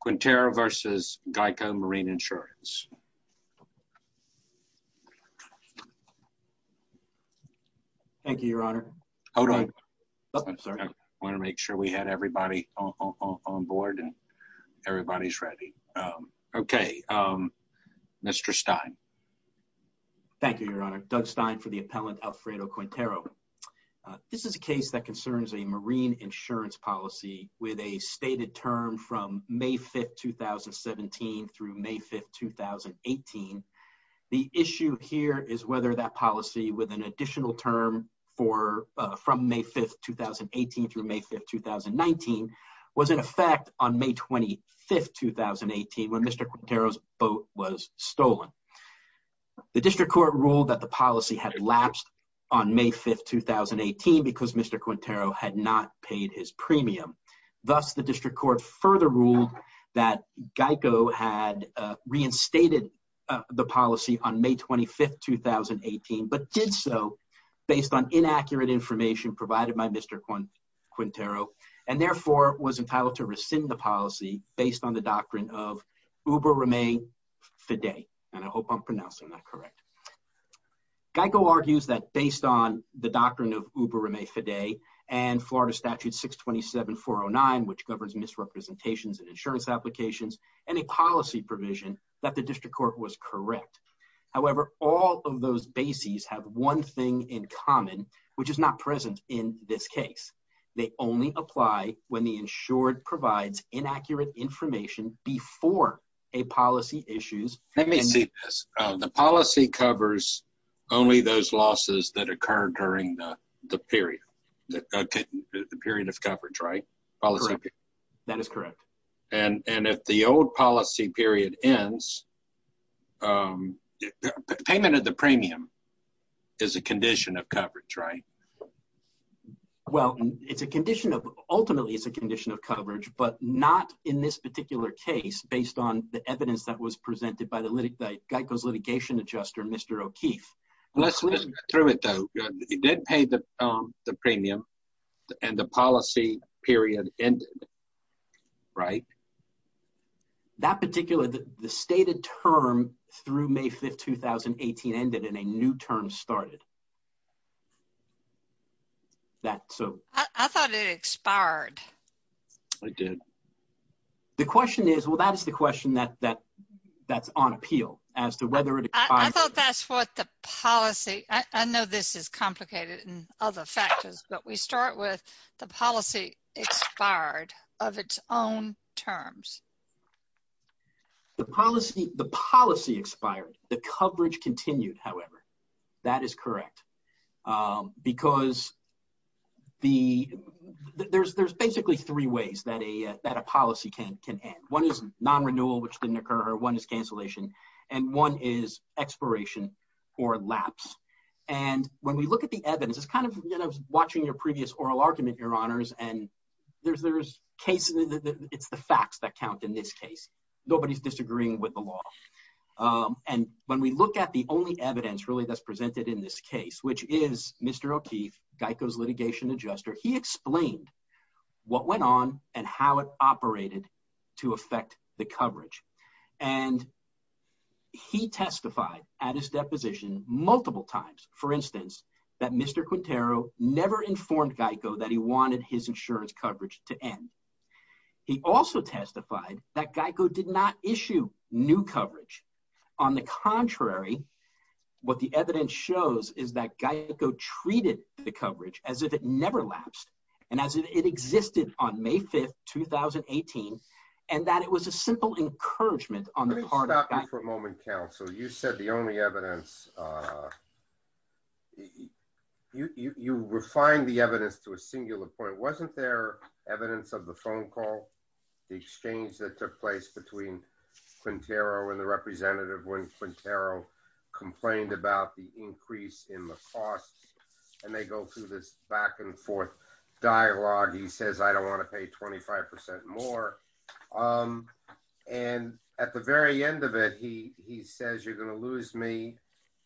Quintero versus Geico Marine Insurance. Thank you, your honor. Hold on. I want to make sure we had everybody on board and everybody's ready. Okay, Mr. Stein. Thank you, your honor. Doug Stein for the appellant Alfredo Quintero. This is a case that concerns a marine insurance policy with a stated term from May 5th, 2017 through May 5th, 2018. The issue here is whether that policy with an additional term from May 5th, 2018 through May 5th, 2019 was in effect on May 25th, 2018 when Mr. Quintero's boat was stolen. The district court ruled that the policy had lapsed on May 5th, 2018 because Mr. Quintero had not paid his premium. Thus, the district court further ruled that Geico had reinstated the policy on May 25th, 2018 but did so based on inaccurate information provided by Mr. Quintero and therefore was entitled to rescind the policy based on the doctrine of Ubermae Fidei. And I hope I'm pronouncing that correct. Geico argues that based on the doctrine of Ubermae Fidei and Florida Statute 627-409 which governs misrepresentations and insurance applications and a policy provision that the district court was correct. However, all of those bases have one thing in common which is not present in this case. They only apply when the insured provides inaccurate information before a policy issues. Let me see this. The policy covers only those losses that the period of coverage, right? That is correct. And if the old policy period ends, payment of the premium is a condition of coverage, right? Well, it's a condition of ultimately it's a condition of coverage but not in this particular case based on the evidence that was presented by Geico's litigation adjuster, Mr. O'Keefe. Let's listen through it though. He did pay the premium and the policy period ended, right? That particular, the stated term through May 5th, 2018 ended and a new term started. That so. I thought it expired. It did. The question is, well, that is the question that's on appeal as to whether it. I thought that's what the policy. I know this is complicated and other factors, but we start with the policy expired of its own terms. The policy expired. The coverage continued, however. That is correct. Because there's basically three ways that a policy can end. One is non-renewal, which didn't occur. One is cancellation. One is expiration or lapse. When we look at the evidence, it's kind of watching your previous oral argument, your honors. It's the facts that count in this case. Nobody's disagreeing with the law. When we look at the only evidence really that's presented in this case, which is Mr. O'Keefe, Geico's litigation adjuster, he explained what went on and how it operated to affect the coverage. He testified at his deposition multiple times, for instance, that Mr. Quintero never informed Geico that he wanted his insurance coverage to end. He also testified that Geico did not issue new coverage. On the contrary, what the evidence shows is that Geico treated the coverage as if it never occurred. Let me stop you for a moment, counsel. You said the only evidence. You refined the evidence to a singular point. Wasn't there evidence of the phone call, the exchange that took place between Quintero and the representative when Quintero complained about the increase in the costs? They go through this back and forth dialogue. He says, I don't want to pay 25% more. At the very end of it, he says, you're going to lose me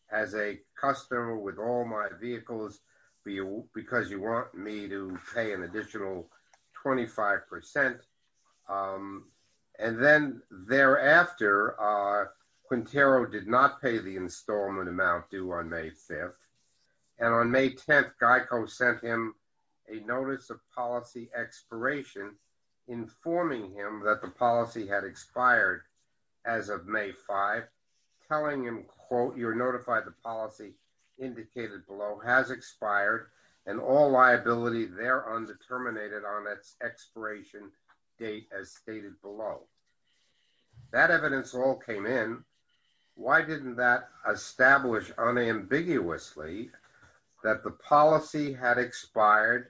as a customer with all my vehicles because you want me to pay an additional 25%. Then thereafter, Quintero did not inform him that the policy had expired as of May 5, telling him, quote, you're notified the policy indicated below has expired and all liability there undetermined on its expiration date as stated below. That evidence all came in. Why didn't that establish unambiguously that the policy had expired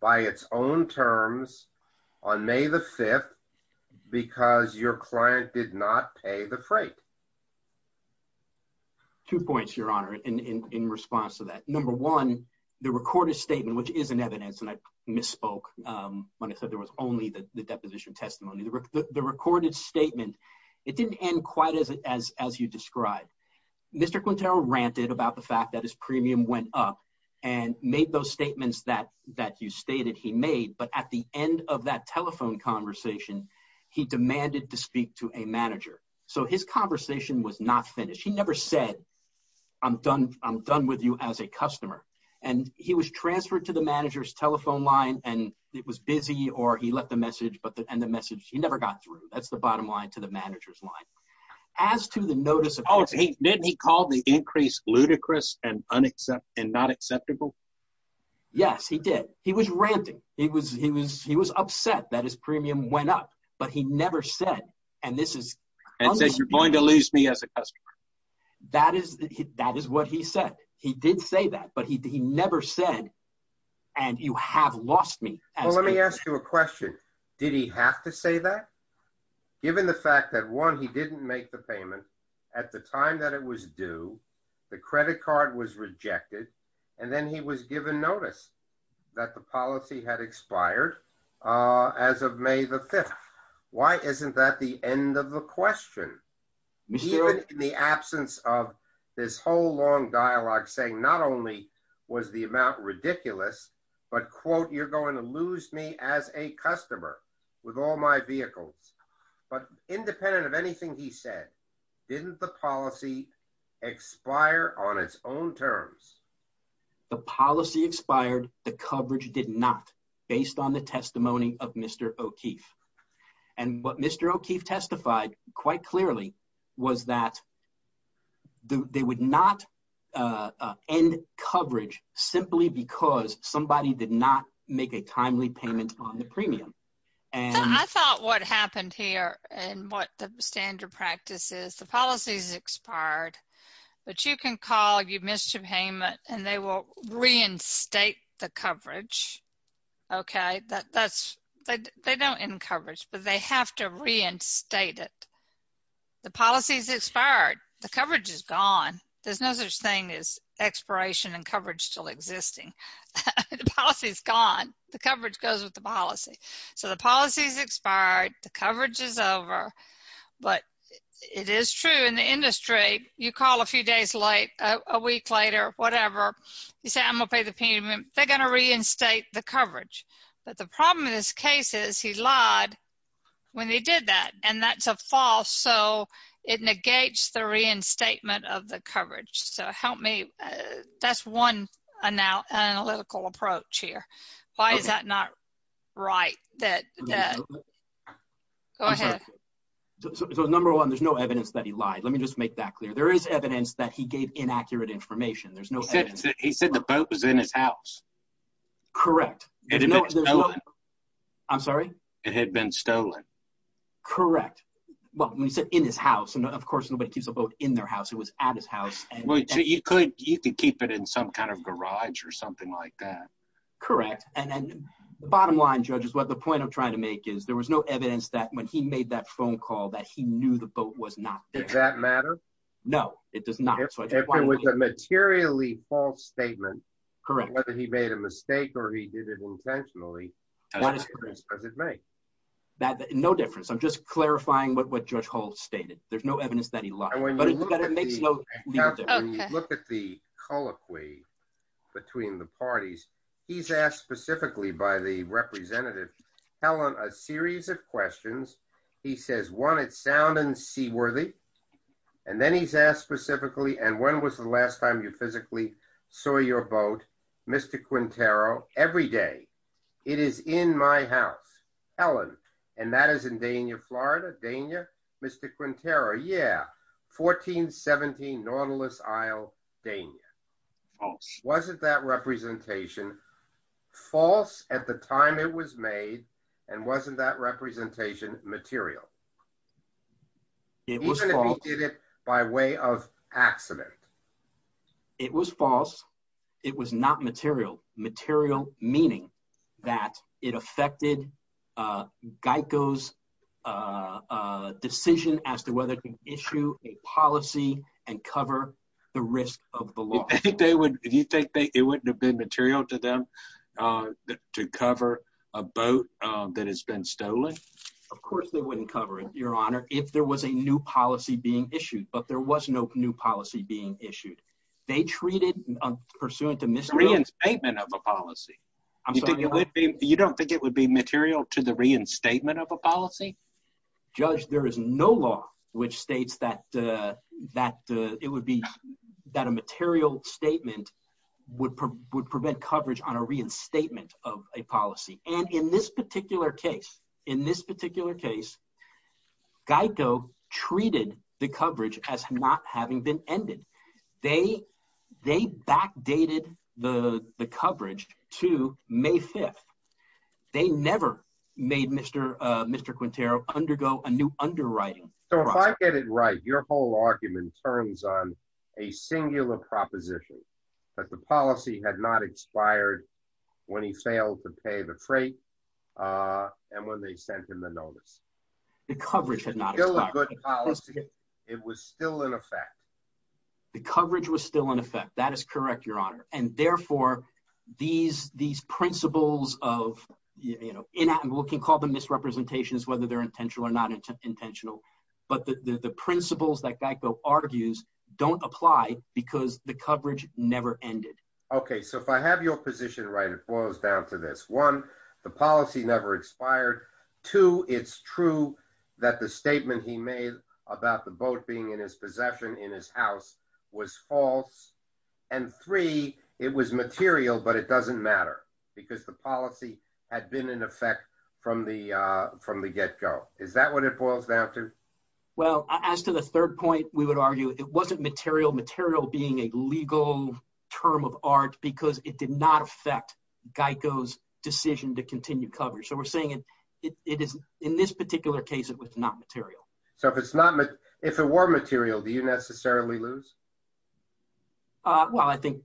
by its own terms on May 5 because your client did not pay the freight? Two points, your honor, in response to that. Number one, the recorded statement, which is an evidence, and I misspoke when I said there was only the deposition testimony. The recorded statement, it didn't end quite as you described. Mr. Quintero ranted about the fact his premium went up and made those statements that you stated he made, but at the end of that telephone conversation, he demanded to speak to a manager. His conversation was not finished. He never said, I'm done with you as a customer. He was transferred to the manager's telephone line, and it was busy, or he left a message, and the message, he never got through. That's the bottom line to the manager's line. As to the notice of... Oh, didn't he call the increase ludicrous and not acceptable? Yes, he did. He was ranting. He was upset that his premium went up, but he never said, and this is... And says you're going to lose me as a customer. That is what he said. He did say that, but he never said, and you have lost me. Well, let me ask you a question. Did he have to say that? Given the fact that one, he didn't make the payment at the time that it was due, the credit card was rejected, and then he was given notice that the policy had expired as of May the 5th. Why isn't that the end of the question? Even in the absence of this whole long dialogue saying not only was the amount ridiculous, but quote, you're going to lose me as a customer with all my vehicles, but independent of anything he said, didn't the policy expire on its own terms? The policy expired. The coverage did not based on the testimony of Mr. O'Keefe, and what Mr. O'Keefe testified quite clearly was that they would not end coverage simply because somebody did not make a timely payment on the premium. I thought what happened here and what the standard practice is, the policy's expired, but you can call, you missed your payment, and they will reinstate the coverage. They don't end coverage, but they have to reinstate it. The policy's expired. The coverage is gone. There's no such thing as expiration and coverage still existing. The policy's gone. The coverage goes with the policy. So the policy's expired. The coverage is over, but it is true in the industry. You call a few days late, a week later, whatever. You say, I'm going to pay the payment. They're going to reinstate the coverage, but the problem in this case is he lied when they did that, and that's a false. So it negates the reinstatement of the coverage. So help me. That's one analytical approach here. Why is that not right? Go ahead. So number one, there's no evidence that he lied. Let me just make that clear. There is evidence that he gave inaccurate information. There's no- He said the boat was in his house. Correct. I'm sorry? It had been stolen. Correct. Well, when he said in his house, and of course, nobody keeps a boat in their house. It was at his house. So you could keep it in some kind of garage or something like that. Correct. And bottom line, judges, what the point I'm trying to make is there was no evidence that when he made that phone call that he knew the boat was not there. Does that matter? No, it does not. If it was a materially false statement, whether he made a mistake or he did it intentionally, what difference does it make? No difference. I'm just clarifying what Judge Holt stated. There's no evidence that he lied, but it makes no difference. Look at the colloquy between the parties. He's asked specifically by the representative, Helen, a series of questions. He says, one, it's sound and seaworthy. And then he's asked specifically, and when was the last time you physically saw your boat? Mr. Quintero, every day. It is in my house. Helen, and that is in Dania, Florida. Dania, Mr. Quintero. Yeah, 1417 Nautilus Isle, Dania. False. That representation, false at the time it was made, and wasn't that representation material? It was false. Even if he did it by way of accident? It was false. It was not material. Material meaning that it affected Geico's decision as to whether to issue a policy and cover the risk of the law. Do you think it wouldn't have been material to them to cover a boat that has been stolen? Of course they wouldn't cover it, Your Honor, if there was a new policy being issued. But there was no new policy being issued. They treated, pursuant to Mr. Quintero's- The reinstatement of a policy. You don't think it would be material to the reinstatement of a policy? Judge, there is no law which states that a material statement would prevent coverage on a reinstatement of a policy. And in this particular case, in this particular case, Geico treated the coverage as not having been ended. They backdated the coverage to May 5th. They never made Mr. Quintero undergo a new underwriting process. So if I get it right, your whole argument turns on a singular proposition, that the policy had not expired when he failed to pay the freight and when they sent him the notice. The coverage had not expired. It was still a good policy. It was still in effect. The coverage was still in effect. That is correct, Your Honor. And therefore, these principles of, you know, we can call them misrepresentations, whether they're intentional or not intentional. But the principles that Geico argues don't apply because the coverage never ended. Okay, so if I have your position right, it boils down to this. One, the policy never expired. Two, it's true that the statement he made about the boat being in his possession in his house was false. And three, it was material, but it doesn't matter because the policy had been in effect from the get-go. Is that what it boils down to? Well, as to the third point, we would argue it wasn't material. Material being a legal term of art because it did not affect Geico's decision to continue coverage. So we're saying in this particular case, it was not material. So if it were material, do you necessarily lose? Well, I think,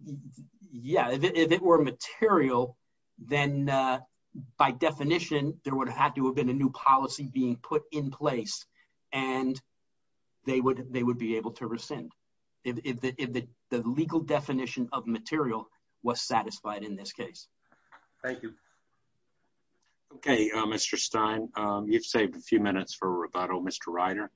yeah, if it were material, then by definition, there would have to have been a new policy being put in place and they would be able to rescind if the legal definition of material was satisfied in this case. Thank you. Okay, Mr. Stein, you've saved a few minutes for rebuttal. Mr. Ryder.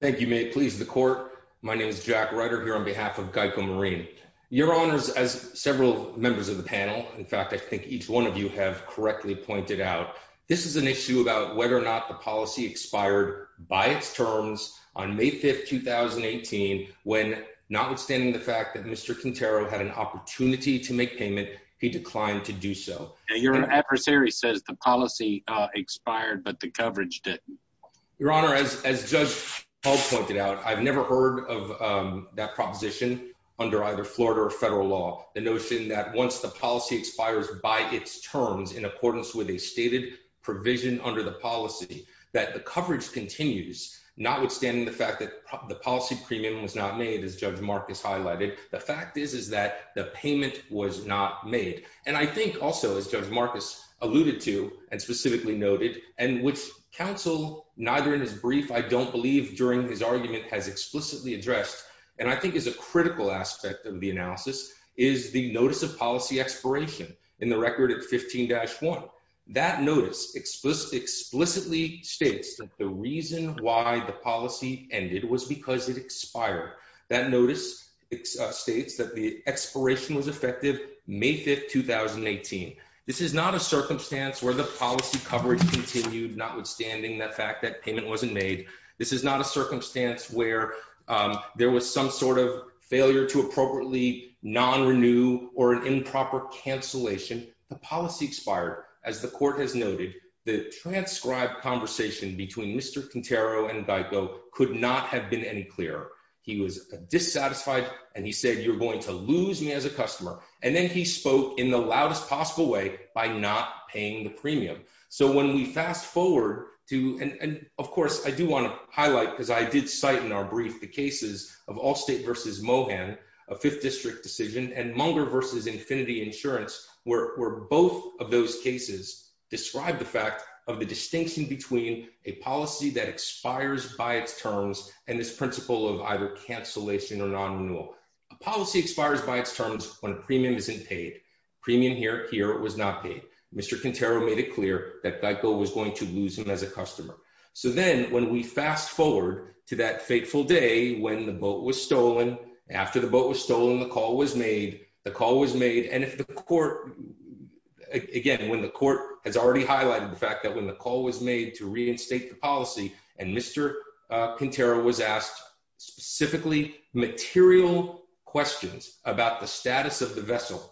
Thank you. May it please the court. My name is Jack Ryder here on behalf of Geico Marine. Your honors, as several members of the panel, in fact, I think each one of you have correctly pointed out, this is an issue about whether or not the policy expired by its terms on May 5th, 2018, when notwithstanding the fact that Mr. Quintero had an opportunity to make payment, he declined to do so. Your adversary says the policy expired, but the coverage didn't. Your honor, as Judge Hall pointed out, I've never heard of that proposition under either Florida or federal law. The notion that once the policy expires by its terms in accordance with a stated provision under the policy, that the coverage continues, notwithstanding the fact that the policy premium was not made, as Judge Marcus highlighted. The fact is, is that the payment was not made. And I think also, as Judge Marcus alluded to and specifically noted, and which counsel, neither in his brief, I don't believe during his argument has explicitly addressed, and I think is a critical aspect of the analysis, is the notice of policy expiration in the record at 15-1. That notice explicitly states that the reason why the policy ended was because it expired. That notice states that the expiration was effective May 5th, 2018. This is not a circumstance where the policy coverage continued, notwithstanding the fact that payment wasn't made. This is not a circumstance where there was some sort of failure to appropriately non-renew or an improper cancellation. The policy expired. As the court has noted, the transcribed conversation between Mr. Quintero and Geico could not have been any clearer. He was dissatisfied and he said, you're going to not paying the premium. So when we fast forward to, and of course, I do want to highlight, because I did cite in our brief, the cases of Allstate versus Mohan, a fifth district decision, and Munger versus Infinity Insurance, where both of those cases describe the fact of the distinction between a policy that expires by its terms and this principle of either cancellation or non-renewal. A policy expires by its terms when a premium isn't paid. Premium here, it was not paid. Mr. Quintero made it clear that Geico was going to lose him as a customer. So then, when we fast forward to that fateful day when the boat was stolen, after the boat was stolen, the call was made, the call was made, and if the court, again, when the court has already highlighted the fact that when the call was made to reinstate the policy and Mr. Quintero was asked specifically material questions about the status of the vessel,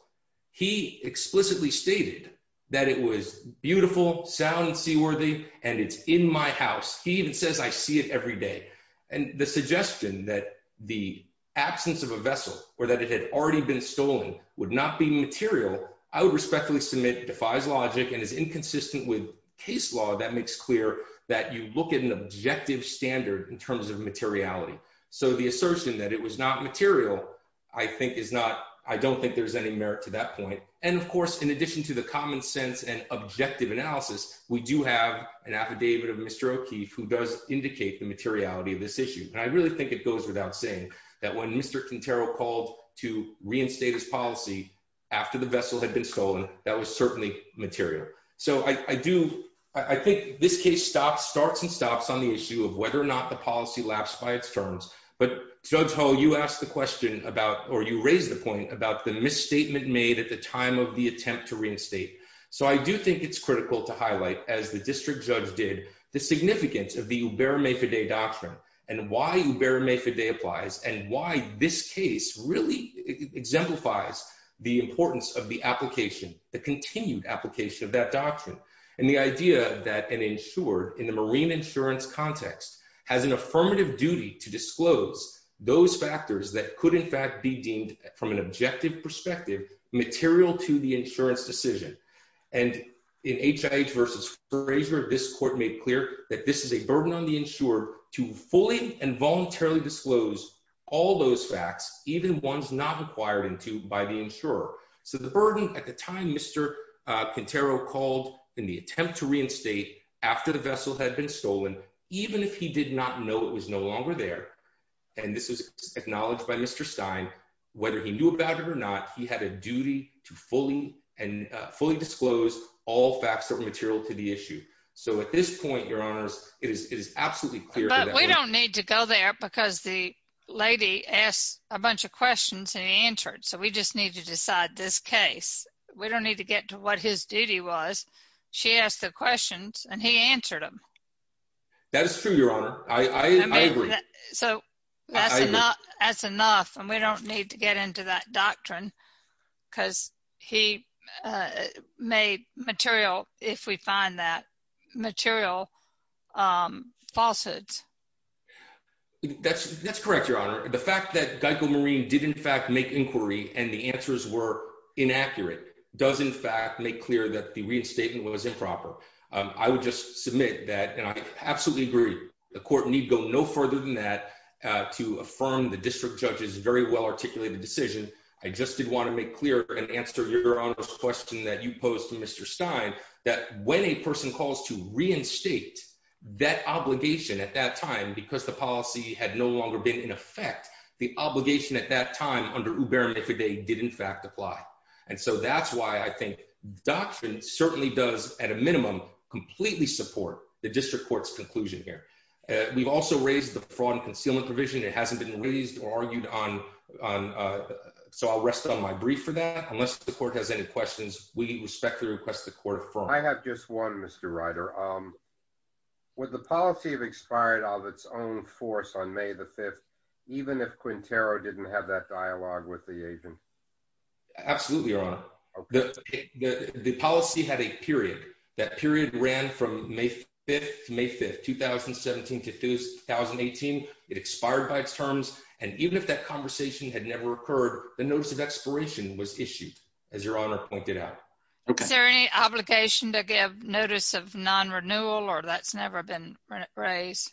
he explicitly stated that it was beautiful, sound and seaworthy, and it's in my house. He even says, I see it every day. And the suggestion that the absence of a vessel or that it had already been stolen would not be material, I would respectfully submit defies logic and is inconsistent with case law that makes clear that you look at an objective standard in terms of materiality. So the assertion that it was not material, I think is not, I don't think there's any merit to that point. And of course, in addition to the common sense and objective analysis, we do have an affidavit of Mr. O'Keefe who does indicate the materiality of this issue. And I really think it goes without saying that when Mr. Quintero called to reinstate his policy after the vessel had been stolen, that was certainly material. So I do, I think this case stops, starts and stops on the issue of whether or not the policy lapsed by its terms. But Judge Ho, you asked the question about, or you raised the point about the misstatement made at the time of the attempt to reinstate. So I do think it's critical to highlight, as the district judge did, the significance of the Uberma-Fide doctrine and why Uberma-Fide applies and why this case really exemplifies the importance of the application, the continued application of that doctrine. And the idea that an insured in the marine insurance context has an affirmative duty to disclose those factors that could in fact be deemed from an objective perspective, material to the insurance decision. And in HIH versus Frazier, this court made clear that this is a burden on the insured to fully and voluntarily disclose all those facts, even ones not required into by the insurer. So the burden at the time Mr. Quintero called in the attempt to reinstate after the vessel had been stolen, even if he did not know it was no longer there, and this was acknowledged by Mr. Stein, whether he knew about it or not, he had a duty to fully disclose all facts that were material to the issue. So at this point, it is absolutely clear. But we don't need to go there because the lady asked a bunch of questions and he answered. So we just need to decide this case. We don't need to get to what his duty was. She asked the questions and he answered them. That is true, Your Honor. I agree. So that's enough and we don't need to get into that doctrine because he made material, if we find that, material falsehoods. That's correct, Your Honor. The fact that Geico Marine did in fact make inquiry and the answers were inaccurate does in fact make clear that the reinstatement was improper. I would just submit that and I absolutely agree. The court need go no further than that to affirm the district judge's very well-articulated decision. I just did want to make clear and answer Your Honor's question that you posed to Mr. Stein, that when a person calls to reinstate that obligation at that time, because the policy had no longer been in effect, the obligation at that time under Uber and Mifidy did in fact apply. And so that's why I think doctrine certainly does at a minimum completely support the district court's conclusion here. We've also raised the fraud and concealment provision. It hasn't been raised or argued on. So I'll rest on my brief for that. Unless the court has any questions, we respectfully request the court affirm. I have just one, Mr. Ryder. Would the policy have expired of its own force on May the 5th, even if Quintero didn't have that dialogue with the agent? Absolutely, Your Honor. The policy had a period. That period ran from May 5th to May 5th, 2017 to 2018. It expired by its terms. And even if that conversation had never occurred, the notice of expiration was issued, as Your Honor pointed out. Is there any obligation to give notice of non-renewal or that's never been raised?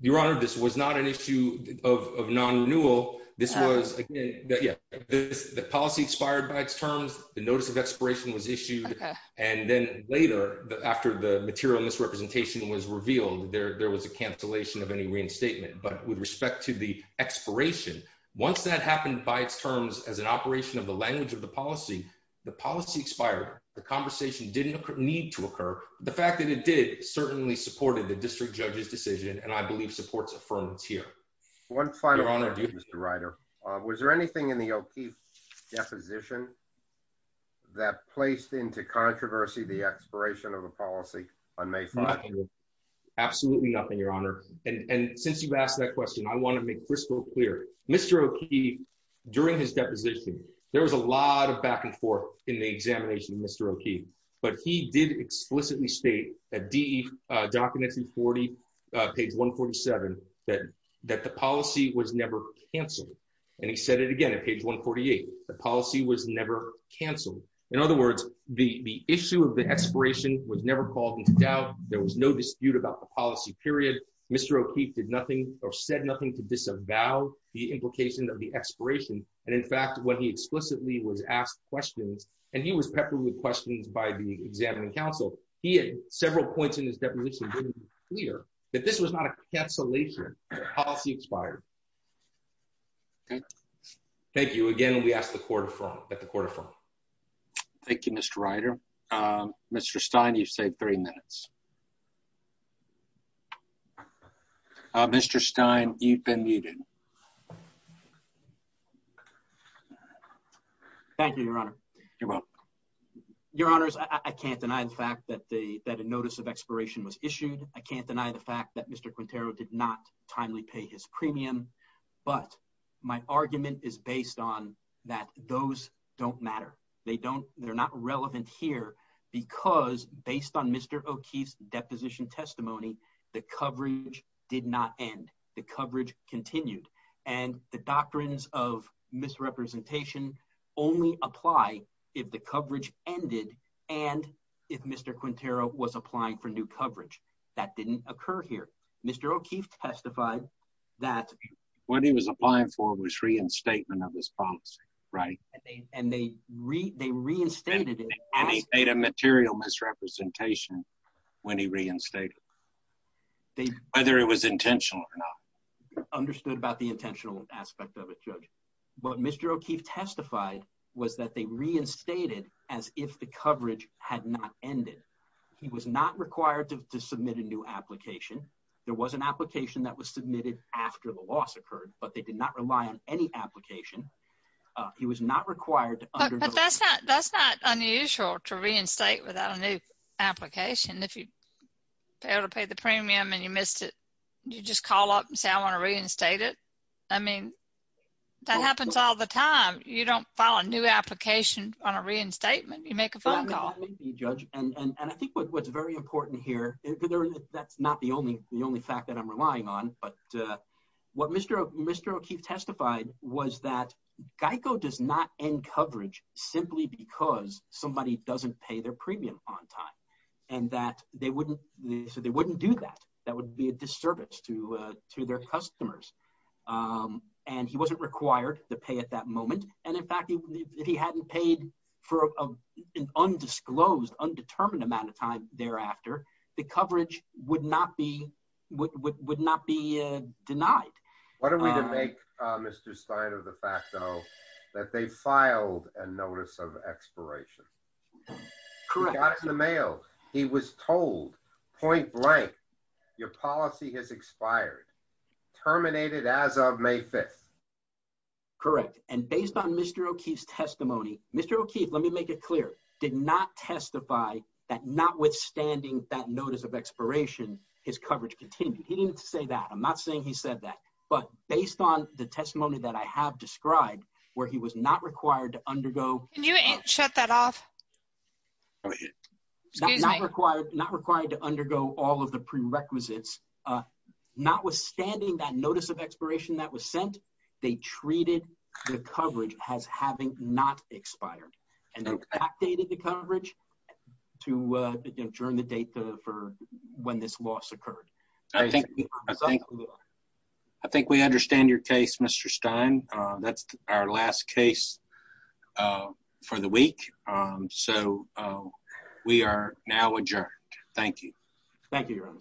Your Honor, this was not an issue of non-renewal. This was, again, the policy expired by its terms. The notice of expiration was material misrepresentation was revealed. There was a cancellation of any reinstatement. But with respect to the expiration, once that happened by its terms as an operation of the language of the policy, the policy expired. The conversation didn't need to occur. The fact that it did certainly supported the district judge's decision and, I believe, supports affirmance here. One final question, Mr. Ryder. Was there anything in the OP deposition that placed into controversy the expiration of the policy on May 5th? Absolutely nothing, Your Honor. And since you've asked that question, I want to make crystal clear. Mr. O'Keefe, during his deposition, there was a lot of back and forth in the examination of Mr. O'Keefe. But he did explicitly state at DE documents 140, page 147, that the policy was never cancelled. And he said it again at page 148. The policy was never cancelled. In other words, the issue of the expiration was never called into doubt. There was no dispute about the policy, period. Mr. O'Keefe did nothing or said nothing to disavow the implication of the expiration. And in fact, when he explicitly was asked questions, and he was peppered with questions by the examining council, he had several points in his deposition made clear that this was not a cancellation. The policy expired. Thank you. Again, we ask that the court affirm. Thank you, Mr. Ryder. Mr. Stein, you've saved three minutes. Mr. Stein, you've been muted. Thank you, Your Honor. You're welcome. Your Honors, I can't deny the fact that a notice of expiration was issued. I can't deny the fact that Mr. Quintero did not pay his premium. But my argument is based on that those don't matter. They're not relevant here because based on Mr. O'Keefe's deposition testimony, the coverage did not end. The coverage continued. And the doctrines of misrepresentation only apply if the coverage ended and if Mr. O'Keefe testified that what he was applying for was reinstatement of this policy. Right. And they re they reinstated it. And he made a material misrepresentation when he reinstated it, whether it was intentional or not. Understood about the intentional aspect of it, Judge. But Mr. O'Keefe testified was that they reinstated as if the coverage had not ended. He was not required to submit a new application. There was an application that was submitted after the loss occurred, but they did not rely on any application. He was not required. That's not unusual to reinstate without a new application. If you failed to pay the premium and you missed it, you just call up and say, I want to reinstate it. I mean, that happens all the time. You don't file a new application on a reinstatement. You make a phone call. And I think what's very important here, that's not the only the only fact that I'm relying on, but what Mr. O'Keefe testified was that GEICO does not end coverage simply because somebody doesn't pay their premium on time and that they wouldn't do that. That would be a disservice to their customers. And he wasn't required to pay at that moment. And in fact, if he hadn't paid for an undisclosed, undetermined amount of time thereafter, the coverage would not be denied. What are we to make Mr. Stein of the fact, though, that they filed a notice of expiration? Correct. He got it in the mail. He was told point blank, your policy has expired, terminated as of May 5th. Correct. And based on Mr. O'Keefe's testimony, Mr. O'Keefe, let me make it clear, did not testify that notwithstanding that notice of expiration, his coverage continued. He didn't say that. I'm not saying he said that, but based on the testimony that I have described, where he was not required to undergo. Can you shut that off? Go ahead. Not required, not required to undergo all of the prerequisites. Notwithstanding that notice of expiration that was sent, they treated the coverage as having not expired and then updated the coverage to adjourn the date for when this loss occurred. Thank you. I think we understand your case, Mr. Stein. That's our last case for the week. So we are now adjourned. Thank you. Thank you.